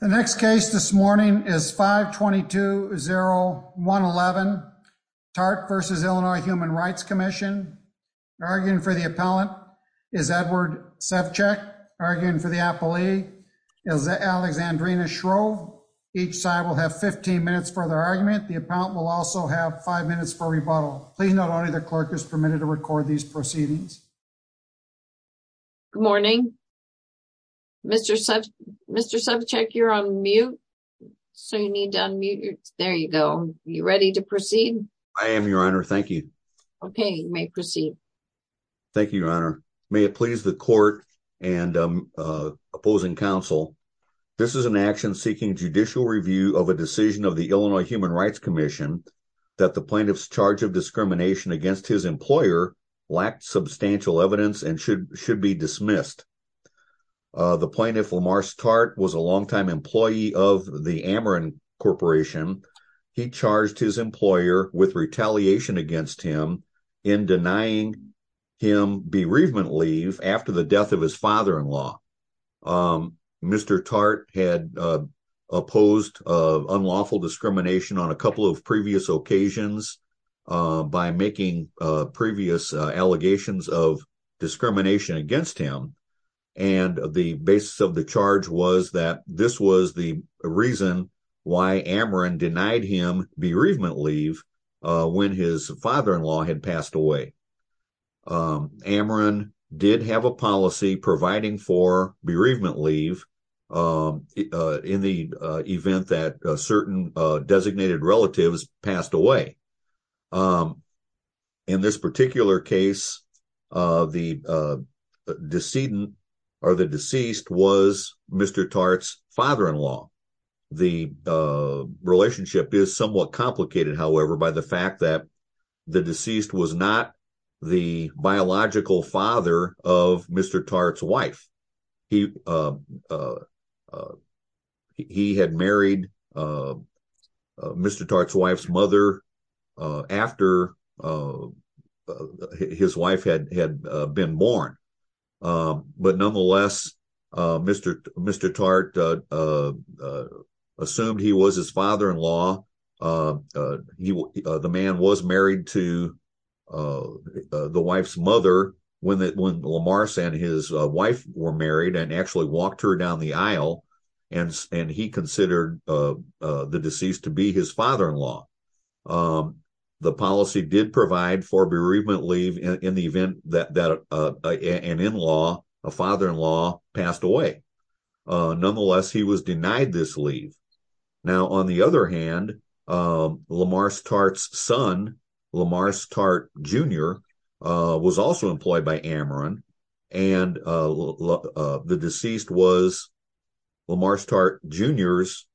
The next case this morning is 522-0111, Tart v. Illinois Human Rights Comm'n. Arguing for the appellant is Edward Sevchak. Arguing for the appellee is Alexandrina Shrove. Each side will have 15 minutes for their argument. The appellant will also have 5 minutes for rebuttal. Please note only the clerk is permitted to record these proceedings. Tart v. Illinois Human Rights Comm'n Thank you, Your Honor. May it please the court and opposing counsel, this is an action seeking judicial review of a decision of the Illinois Human Rights Comm'n that the plaintiff's charge discrimination against his employer lacked substantial evidence and should be dismissed. The plaintiff, Lamarce Tart, was a long-time employee of the Ameren Corporation. He charged his employer with retaliation against him in denying him bereavement leave after the death of his father-in-law. Mr. Tart had opposed unlawful discrimination on a couple of previous occasions by making previous allegations of discrimination against him, and the basis of the charge was that this was the reason why Ameren denied him bereavement leave when his father-in-law had passed away. Ameren did have a policy providing for bereavement leave in the event that certain designated relatives passed away. In this particular case, the deceased was Mr. Tart's father-in-law. The relationship is somewhat complicated, however, by the fact that the deceased was not the biological father of Mr. Tart's wife. He had married Mr. Tart's wife's mother after his wife had been born, but nonetheless, Mr. Tart assumed he was his father-in-law. The man was married to the wife's mother when Lamarce and his wife were married and actually walked her down the aisle, and he considered the deceased to be his father-in-law. The policy did provide for bereavement leave in the event that an in-law, a father-in-law, passed away. Nonetheless, he was denied this leave. Now, on the other hand, Lamarce Tart's son, Lamarce Tart Jr., was also employed by Ameren, and the deceased was Lamarce Tart Jr.'s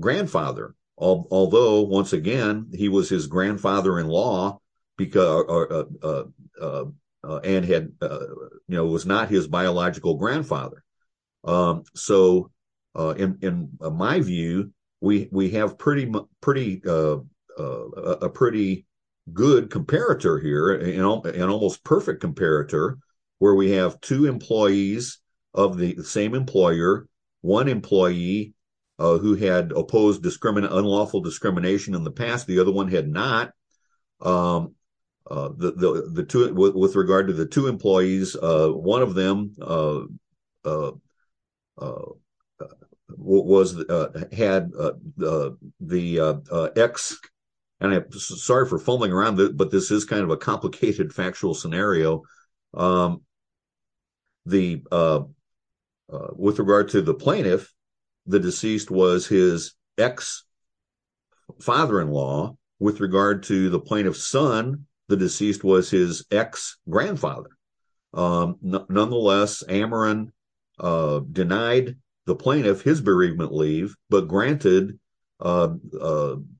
grandfather, although, once again, he was his grandfather-in-law and was not his biological father-in-law. We have an almost perfect comparator here where we have two employees of the same employer, one employee who had opposed unlawful discrimination in the past, the other one had not. With regard to the plaintiff, the deceased was his ex-father-in-law, with regard to the plaintiff's son, the deceased was his ex-grandfather. Nonetheless, Ameren denied the plaintiff his bereavement leave, but granted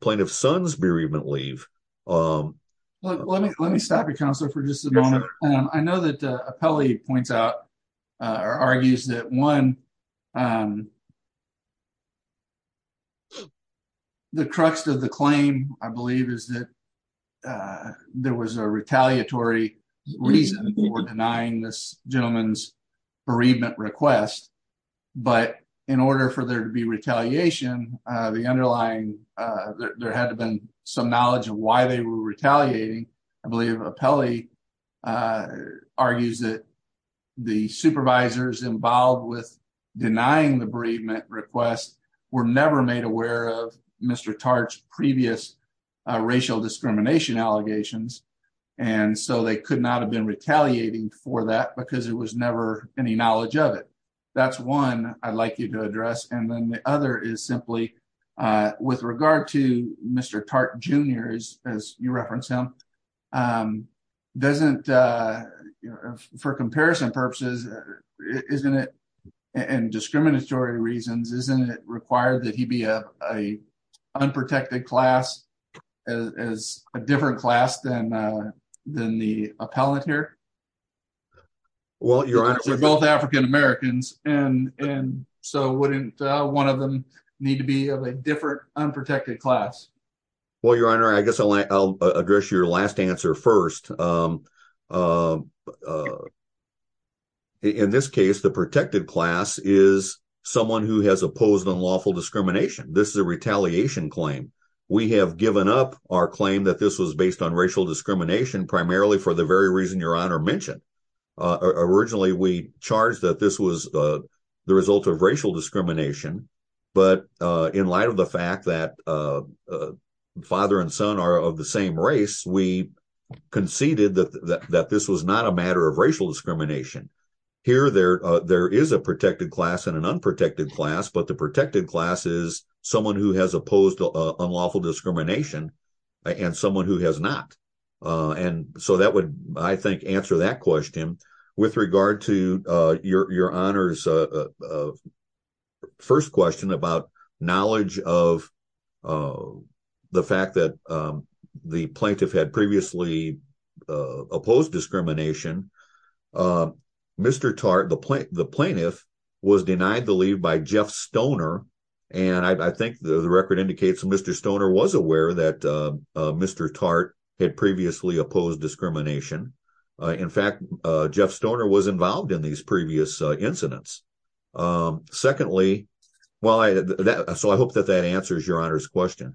plaintiff's son's bereavement leave. Let me stop you, Counselor, for just a moment. I know that Apelli points out or argues that, one, the crux of the claim, I believe, is that there was a retaliatory reason for denying this gentleman's bereavement request, but in order for there to be retaliation, there had to have been some knowledge of why they were retaliating. I believe Apelli argues that the supervisors involved with denying the bereavement request were never made aware of Mr. Tartt's previous racial discrimination allegations, and so they could not have been retaliating for that because there was never any knowledge of it. That is one I would like you to address. The other is simply, with regard to Mr. Tartt Jr., as you referenced him, doesn't, for comparison purposes, isn't it, in discriminatory reasons, isn't it required that he be of an unprotected class, as a different class than the appellate here? We're both African Americans, and so wouldn't one of them need to be of a different unprotected class? Well, I guess I'll address your last answer first. In this case, the protected class is someone who has opposed unlawful discrimination. This is a retaliation claim. We have given up our claim that this was based on racial discrimination, primarily for the very reason Your Honor mentioned. Originally, we charged that this was the result of racial discrimination, but in light of the fact that father and son are of the same race, we conceded that this was not a matter of racial discrimination. Here, there is a protected class and an unprotected class, but the protected class is someone who has opposed unlawful discrimination and someone who has not. And so that would, I think, answer that question. With regard to Your Honor's first question about knowledge of the fact that the plaintiff had previously opposed discrimination, Mr. Tartt, the plaintiff, was denied the leave by Jeff Stoner, and I think the record indicates that Mr. Stoner was aware that Mr. Tartt had previously opposed discrimination. In fact, Jeff Stoner was involved in these previous incidents. Secondly, so I hope that that answers Your Honor's question.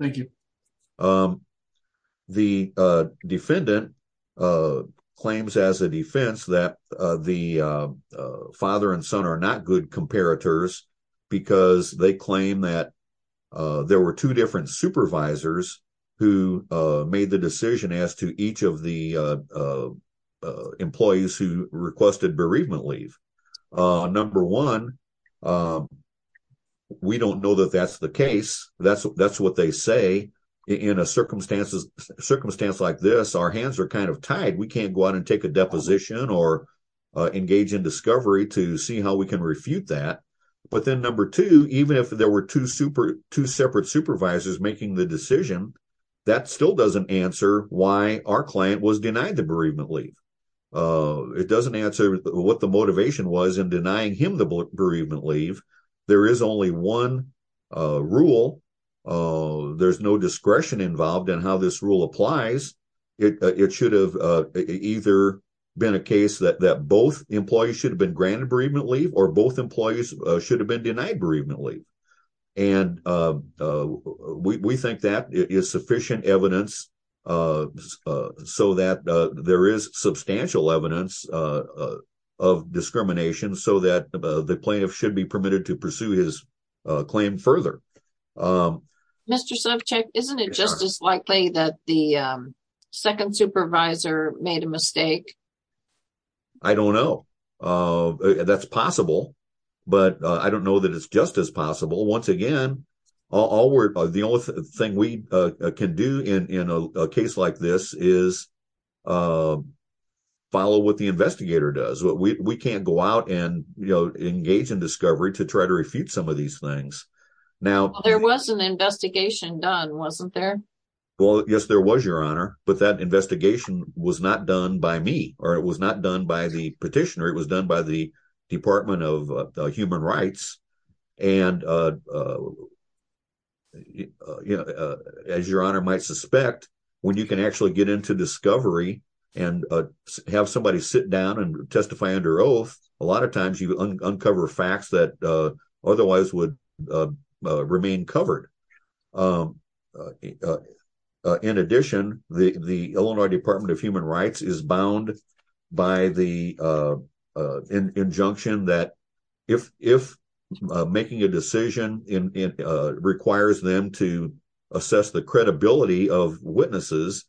Thank you. The defendant claims as a defense that the father and son are not good comparators because they claim that there were two different supervisors who made the decision as to each of the employees who requested bereavement leave. Number one, we don't know that that's the case. That's what they say. In a circumstance like this, our hands are kind of tied. We can't go out and take a deposition or engage in discovery to see how we can refute that. But then number two, even if there were two separate supervisors making the decision, that still doesn't answer why our client was denied the bereavement leave. It doesn't answer what the motivation was in denying him the bereavement leave. There is only one rule. There's no discretion involved in how this rule applies. It should have either been a case that both employees should have been granted bereavement leave or both employees should have been denied bereavement leave. And we think that is sufficient evidence so that there is substantial evidence of discrimination so that the plaintiff should be permitted to pursue his claim further. Mr. Subcheck, isn't it just as the second supervisor made a mistake? I don't know. That's possible, but I don't know that it's just as possible. Once again, the only thing we can do in a case like this is follow what the investigator does. We can't go out and engage in discovery to try to refute some of these things. There was an investigation done, wasn't there? Well, yes, there was, Your Honor, but that investigation was not done by me or it was not done by the petitioner. It was done by the Department of Human Rights. As Your Honor might suspect, when you can actually get into discovery and have somebody sit down and testify under oath, a lot of times you uncover facts that otherwise would remain covered. In addition, the Illinois Department of Human Rights is bound by the injunction that if making a decision requires them to assess the credibility of witnesses,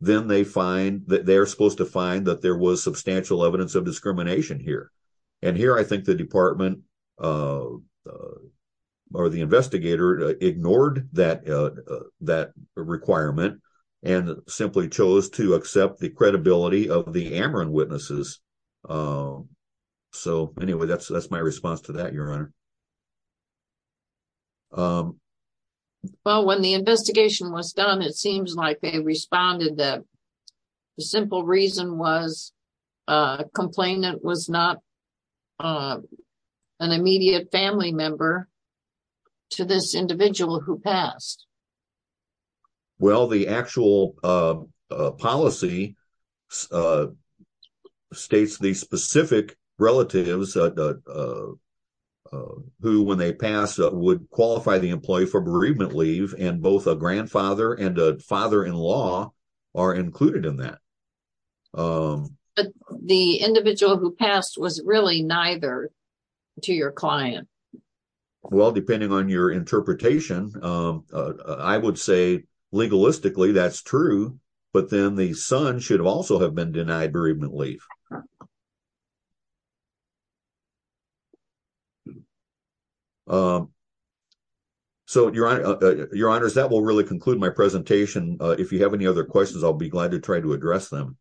then they are supposed to find that there was substantial evidence of discrimination here. Here, I think the investigator ignored that requirement and simply chose to accept the credibility of the Ameren witnesses. Anyway, that's my response to that, Your Honor. Well, when the investigation was done, it seems like they responded that the simple reason was a complainant was not an immediate family member to this individual who passed. Well, the actual policy states the specific relatives who, when they pass, would qualify the employee for bereavement leave, and both a grandfather and a father-in-law are included in that. The individual who passed was really neither to your client. Well, depending on your interpretation, I would say legalistically that's true, but then the son should also have been denied bereavement leave. So, Your Honor, that will really conclude my presentation. If you have any other questions, I'll be glad to try to address them.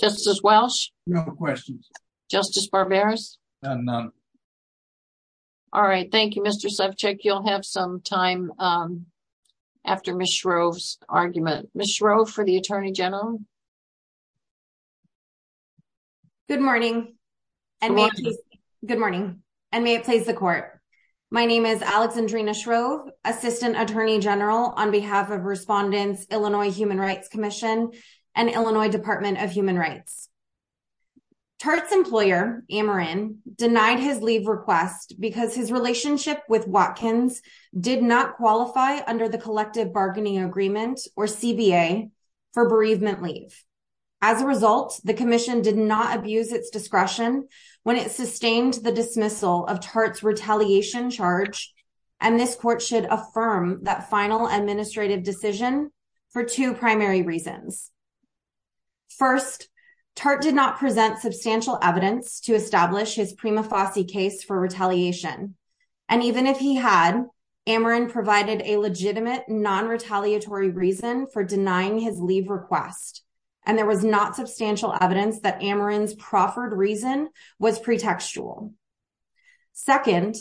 Justice Welch? No questions. Justice Barberis? None. All right. Thank you, Mr. Sefcik. You'll have some time after Ms. Shrove's argument. Ms. Shrove, for the Attorney General? Good morning, and may it please the Court. My name is Alexandrina Shrove, Assistant Attorney General on behalf of Respondents, Illinois Human Rights Commission, and Illinois Department of Human Rights. Tert's employer, Ameren, denied his leave request because his relationship with Watkins did not qualify under the Collective Bargaining Agreement, or CBA, for bereavement leave. As a result, the Commission did not abuse its discretion when it sustained the dismissal of Tert's retaliation charge, and this Court should affirm that final administrative decision for two primary reasons. First, Tert did not present substantial evidence to establish his prima facie case for retaliation, and even if he had, Ameren provided a legitimate non-retaliatory reason for denying his leave request, and there was not substantial evidence that Ameren's proffered reason was pretextual. Second,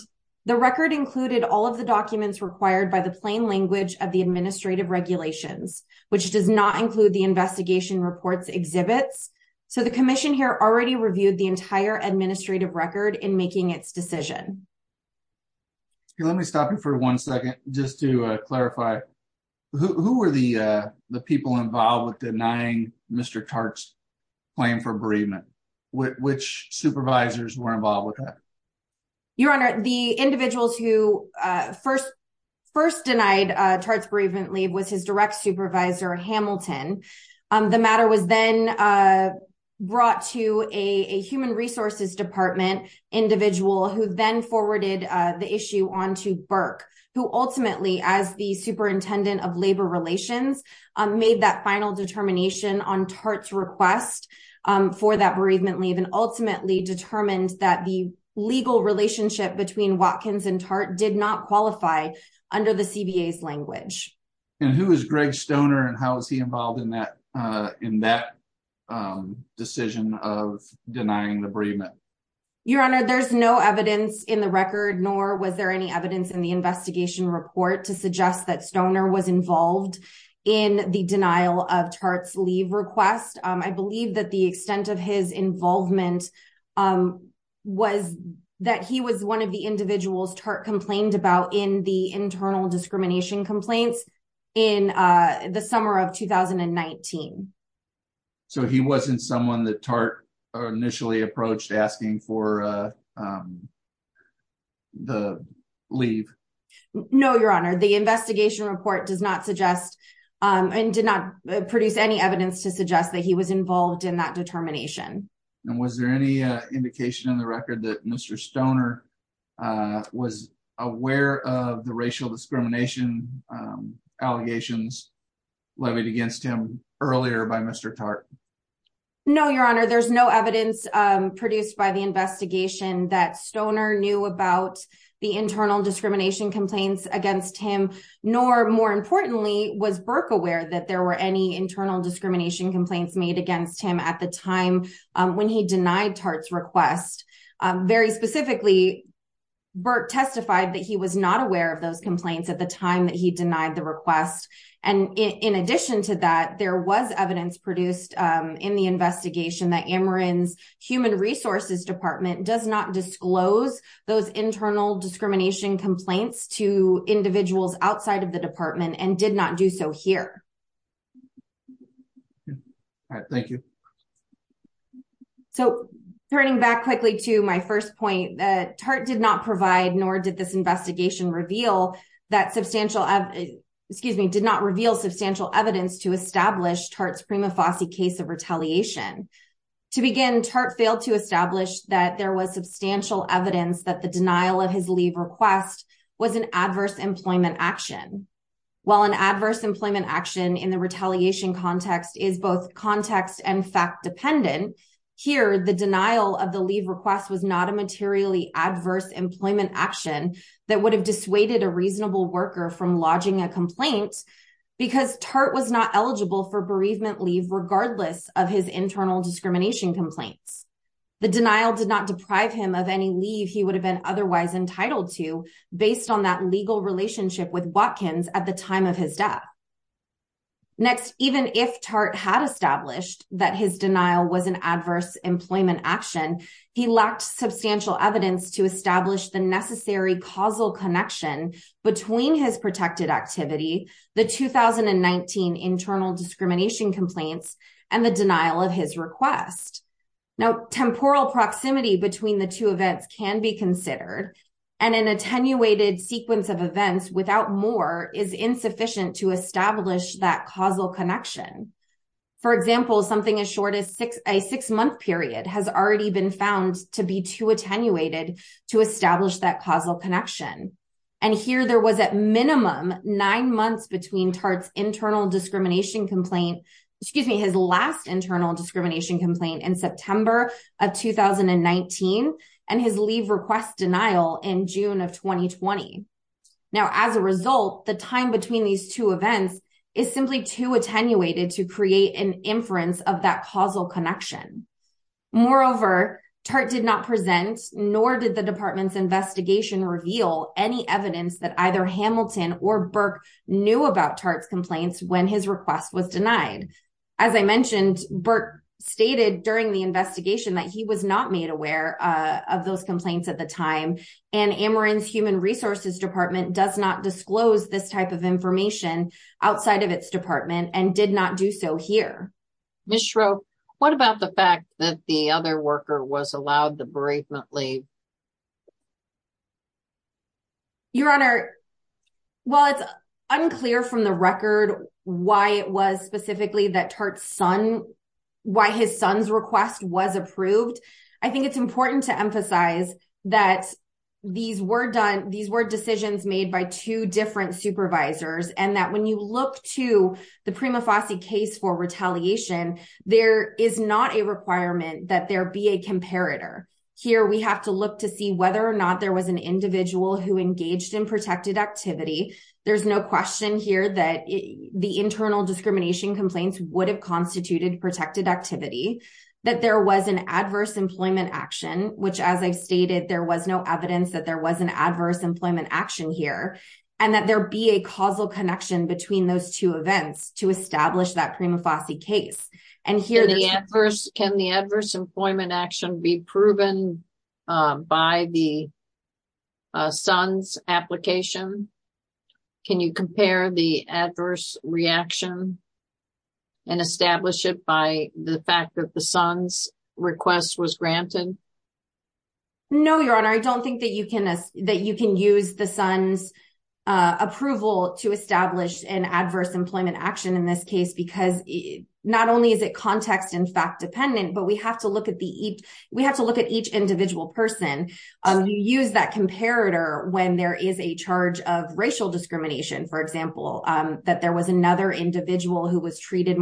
the record included all of the documents required by the plain language of the administrative regulations, which does not include the investigation report's exhibits, so the Commission here already reviewed the entire administrative record in making its decision. Let me stop you for one second just to clarify. Who were the people involved with denying Mr. Tert's claim for bereavement? Which supervisors were involved with that? Your Honor, the individuals who first denied Tert's bereavement leave was his direct supervisor, Hamilton. The matter was then brought to a human resources department individual who then forwarded the issue on to Burke, who ultimately, as the superintendent of labor relations, made that final determination on Tert's request for that bereavement leave, and ultimately determined that the legal relationship between Watkins and Tert did not qualify under the CBA's language. And who is Greg Stoner, and how is he involved in that decision of denying the bereavement? Your Honor, there's no evidence in the record, nor was there any evidence in the investigation report to suggest that Stoner was involved in the denial of Tert's leave request. I believe that the extent of his involvement was that he was one of the individuals Tert complained about in the internal discrimination complaints in the summer of 2019. So he wasn't someone that Tert initially approached asking for the leave? No, Your Honor, the investigation report does not suggest, and did not produce any evidence to suggest that he was involved in that determination. And was there any indication in the record that Mr. Stoner was aware of the racial discrimination allegations levied against him earlier by Mr. Tert? No, Your Honor, there's no evidence produced by the investigation that Stoner knew about the internal discrimination complaints against him, nor more importantly, was Burke aware that there were any internal discrimination complaints made against him at the time when he denied Tert's request. Very specifically, Burke testified that he was not aware of those complaints at the time that he denied the request. And in addition to that, there was evidence produced in the investigation that Ameren's Human Resources Department does not disclose those internal discrimination complaints to individuals outside of the department and did not do so here. All right, thank you. So turning back quickly to my first point, Tert did not provide nor did this investigation reveal that substantial, excuse me, did not reveal substantial evidence to establish Tert's prima facie case of retaliation. To begin, Tert failed to establish that there was substantial evidence that the denial of his leave request was an adverse employment action. While an adverse employment action in the retaliation context is both context and fact dependent, here the denial of the leave request was not a materially adverse employment action that would have dissuaded a reasonable worker from lodging a complaint because Tert was not eligible for bereavement leave regardless of his internal discrimination complaints. The denial did not deprive him of any leave he would have been otherwise entitled to based on that legal relationship with Watkins at the time of his death. Next, even if Tert had established that his denial was an adverse employment action, he lacked substantial evidence to establish the necessary causal connection between his protected activity, the 2019 internal discrimination complaints, and the denial of his request. Now, temporal proximity between the two events can be considered, and an attenuated sequence of events without more is insufficient to establish that causal connection. For example, something as short as a six-month period has already been found to be too attenuated to establish that causal connection. And here there was at minimum nine months between Tert's internal discrimination complaint in September of 2019 and his leave request denial in June of 2020. Now, as a result, the time between these two events is simply too attenuated to create an inference of that causal connection. Moreover, Tert did not present, nor did the department's investigation reveal, any evidence that either Hamilton or Burke knew about Tert's complaints when his request was during the investigation that he was not made aware of those complaints at the time. And Ameren's Human Resources Department does not disclose this type of information outside of its department and did not do so here. Ms. Schroep, what about the fact that the other worker was allowed the bereavement leave? Your Honor, while it's unclear from the record why it was specifically that Tert's son, why his son's request was approved, I think it's important to emphasize that these were decisions made by two different supervisors and that when you look to the Prima Fossey case for retaliation, there is not a requirement that there be a comparator. Here we have to look to see whether or not there was an individual who engaged in protected activity. There's no question here that the internal discrimination complaints would have protected activity, that there was an adverse employment action, which as I've stated, there was no evidence that there was an adverse employment action here, and that there be a causal connection between those two events to establish that Prima Fossey case. Can the adverse employment action be proven by the son's application? Can you compare the adverse reaction and establish it by the fact that the son's request was granted? No, Your Honor. I don't think that you can use the son's approval to establish an adverse employment action in this case because not only is it context and fact dependent, but we have to look at each individual person. You use that comparator when there is a charge of racial discrimination, for example, that there was another individual who was treated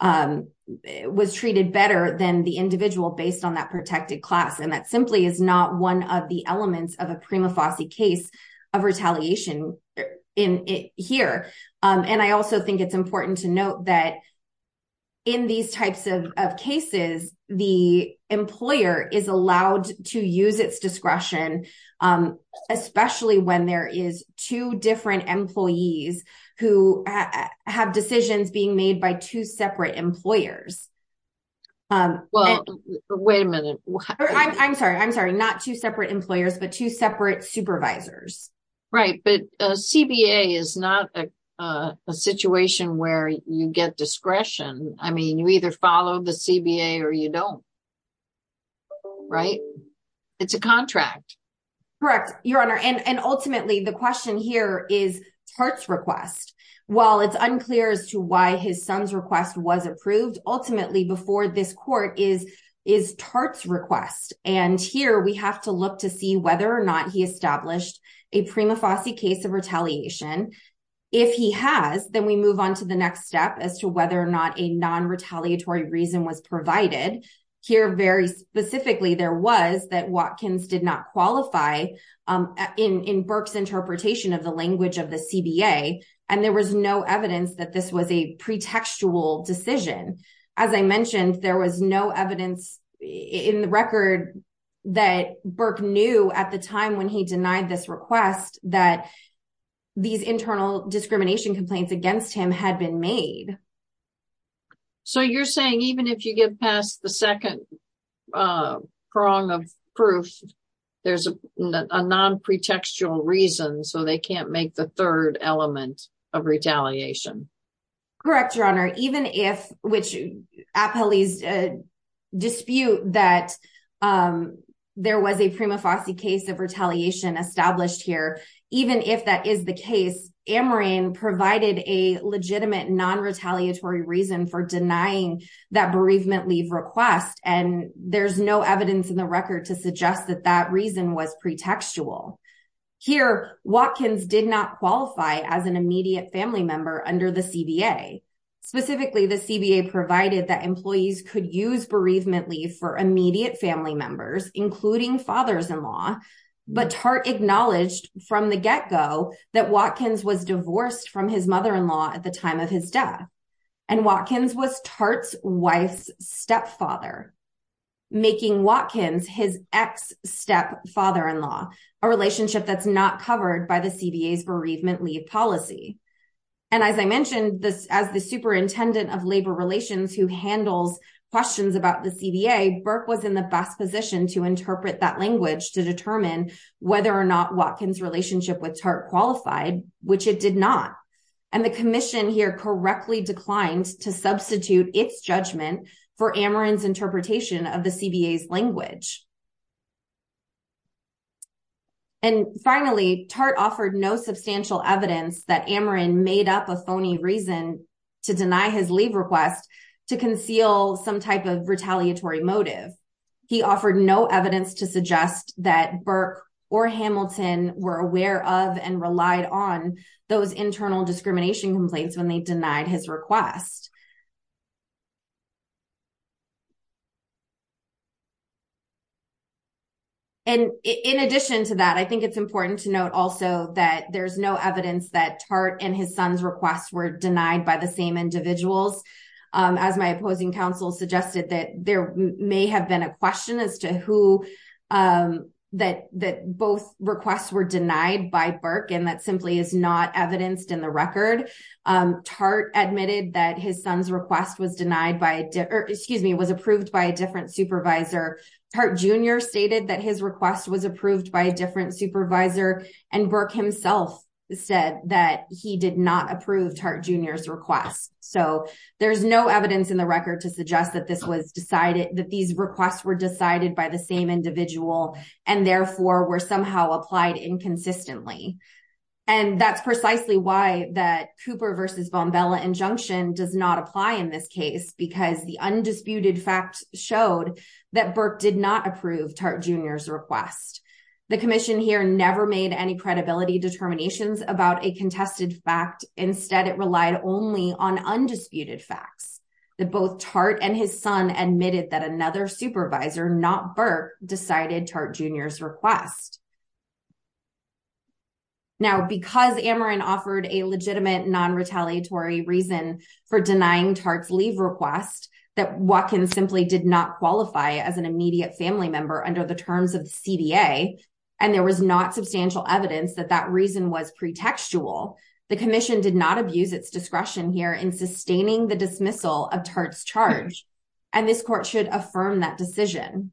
better than the individual based on that protected class, and that simply is not one of the elements of a Prima Fossey case of retaliation here. I also think it's important to note that in these types of cases, the employer is allowed to use its discretion, especially when there is two different employees who have decisions being made by two separate employers. Wait a minute. I'm sorry. I'm sorry. Not two separate employers, but two separate supervisors. Right. But CBA is not a situation where you get discretion. I mean, you either follow the CBA or you don't, right? It's a contract. Correct, Your Honor. And ultimately, the question here is Tartt's request. While it's unclear as to why his son's request was approved, ultimately before this court is Tartt's request. And here we have to look to see whether or not he established a Prima Fossey case of retaliation. If he has, then we move on to the next step as to whether or not a non-retaliatory reason was provided. Here, very specifically, there was that Watkins did not qualify in Burke's interpretation of the language of the CBA, and there was no evidence that this was a pretextual decision. As I mentioned, there was no evidence in the record that Burke knew at the time when he denied this request that these internal discrimination complaints against him had been made. So you're saying even if you get past the second prong of proof, there's a non-pretextual reason, so they can't make the third element of retaliation? Correct, Your Honor. Even if, which appellees dispute that there was a Prima Fossey case of retaliation established here, even if that is the case, Amerine provided a legitimate non-retaliatory reason for denying that bereavement leave request, and there's no evidence in the record to suggest that that reason was pretextual. Here, Watkins did not qualify as an immediate family member under the CBA. Specifically, the CBA provided that employees could use bereavement leave for immediate family members, including fathers-in-law, but Tartt acknowledged from the get-go that Watkins was divorced from his mother-in-law at the time of his death, and Watkins was Tartt's wife's stepfather, making Watkins his ex-stepfather-in-law, a relationship that's not covered by the CBA's superintendent of labor relations who handles questions about the CBA. Burke was in the best position to interpret that language to determine whether or not Watkins' relationship with Tartt qualified, which it did not, and the commission here correctly declined to substitute its judgment for Amerine's interpretation of the CBA's language. Finally, Tartt offered no substantial evidence that Amerine made up a phony reason to deny his leave request to conceal some type of retaliatory motive. He offered no evidence to suggest that Burke or Hamilton were aware of and relied on those internal discrimination complaints when they denied his request. And in addition to that, I think it's important to note also that there's no evidence that Tartt and his son's requests were denied by the same individuals. As my opposing counsel suggested, that there may have been a question as to who, that both requests were denied by Burke, and that simply is not evidenced in the record. Tartt admitted that his son's request was denied by, or excuse me, was approved by a different supervisor. Tartt Jr. stated that his request was approved by a different supervisor, and Burke himself said that he did not approve Tartt Jr.'s request. So there's no evidence in the record to suggest that this was decided, that these requests were decided by the same individual and therefore were somehow applied inconsistently. And that's precisely why that Cooper v. Bombella injunction does not apply in this case, because the undisputed showed that Burke did not approve Tartt Jr.'s request. The commission here never made any credibility determinations about a contested fact. Instead, it relied only on undisputed facts, that both Tartt and his son admitted that another supervisor, not Burke, decided Tartt Jr.'s request. Now, because Ameren offered a legitimate non-retaliatory reason for denying Tartt's request, that Watkins simply did not qualify as an immediate family member under the terms of the CDA, and there was not substantial evidence that that reason was pretextual, the commission did not abuse its discretion here in sustaining the dismissal of Tartt's charge. And this court should affirm that decision.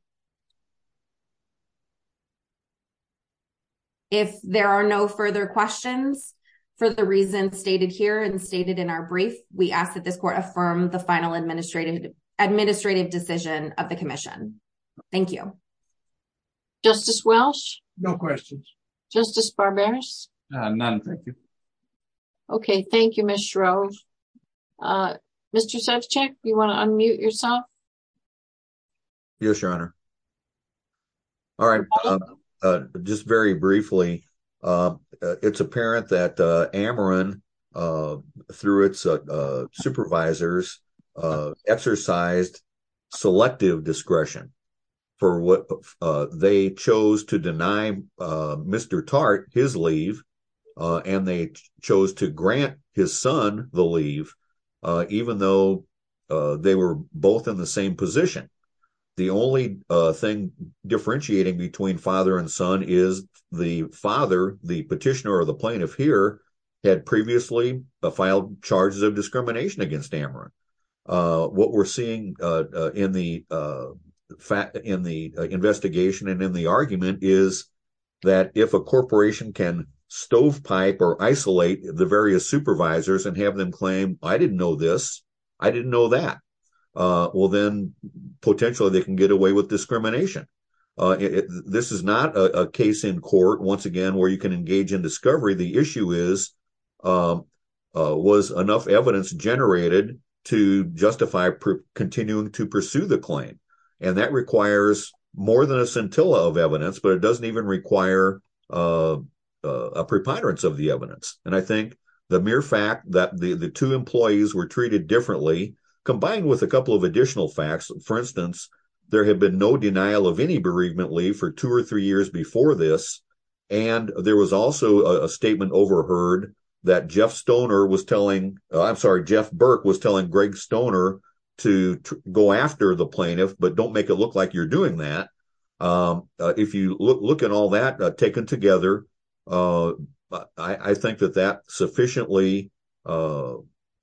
If there are no further questions, for the reasons stated here in our brief, we ask that this court affirm the final administrative decision of the commission. Thank you. Justice Welch? No questions. Justice Barberis? None, thank you. Okay, thank you, Ms. Shrove. Mr. Sevcich, do you want to unmute yourself? Yes, Your Honor. All right, just very briefly, it's apparent that Ameren through its supervisors exercised selective discretion for what they chose to deny Mr. Tartt his leave, and they chose to grant his son the leave, even though they were both in the same position. The only thing differentiating between father and son is the father, the charges of discrimination against Ameren. What we're seeing in the investigation and in the argument is that if a corporation can stovepipe or isolate the various supervisors and have them claim, I didn't know this, I didn't know that, well, then potentially they can get away with discrimination. This is not a case in court, once again, where you can engage in discovery. The enough evidence generated to justify continuing to pursue the claim. That requires more than a scintilla of evidence, but it doesn't even require a preponderance of the evidence. I think the mere fact that the two employees were treated differently, combined with a couple of additional facts, for instance, there had been no denial of any bereavement leave for two or three Jeff Burke was telling Greg Stoner to go after the plaintiff, but don't make it look like you're doing that. If you look at all that taken together, I think that that sufficiently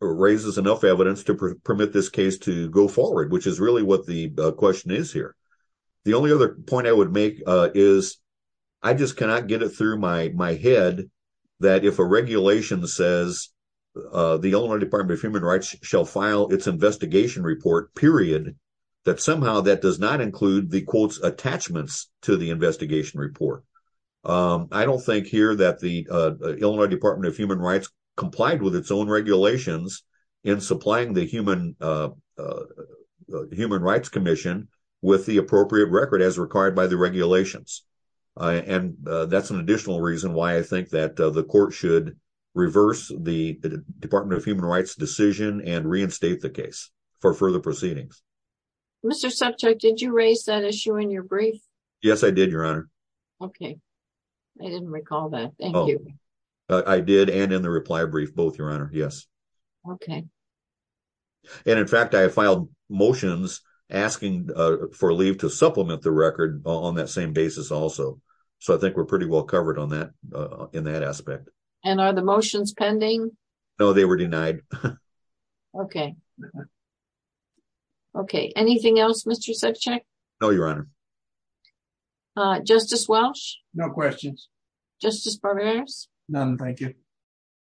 raises enough evidence to permit this case to go forward, which is really what the question is here. The only other point I would make is I just cannot get it through my head that if a regulation says the Illinois Department of Human Rights shall file its investigation report, period, that somehow that does not include the, quote, attachments to the investigation report. I don't think here that the Illinois Department of Human Rights complied with its own regulations in supplying the Human Rights Commission with the appropriate record as required by the regulations, and that's an additional reason why I think that the court should reverse the Department of Human Rights decision and reinstate the case for further proceedings. Mr. Subject, did you raise that issue in your brief? Yes, I did, Your Honor. Okay. I didn't recall that. Thank you. I did, and in the reply brief, both, Your Honor. Yes. Okay. And, in fact, I filed motions asking for leave to supplement the record on that same basis also, so I think we're pretty well covered on that, in that aspect. And are the motions pending? No, they were denied. Okay. Okay. Anything else, Mr. Subject? No, Your Honor. Justice Welch? No questions. Justice Barberas? None, thank you.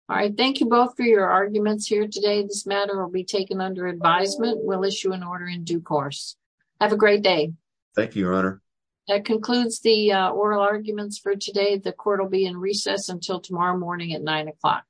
All right. Thank you both for your arguments here today. This matter will be taken under advisement. We'll issue an order in due course. Have a great day. Thank you, Your Honor. That concludes the oral arguments for today. The court will be in recess until tomorrow morning at nine o'clock.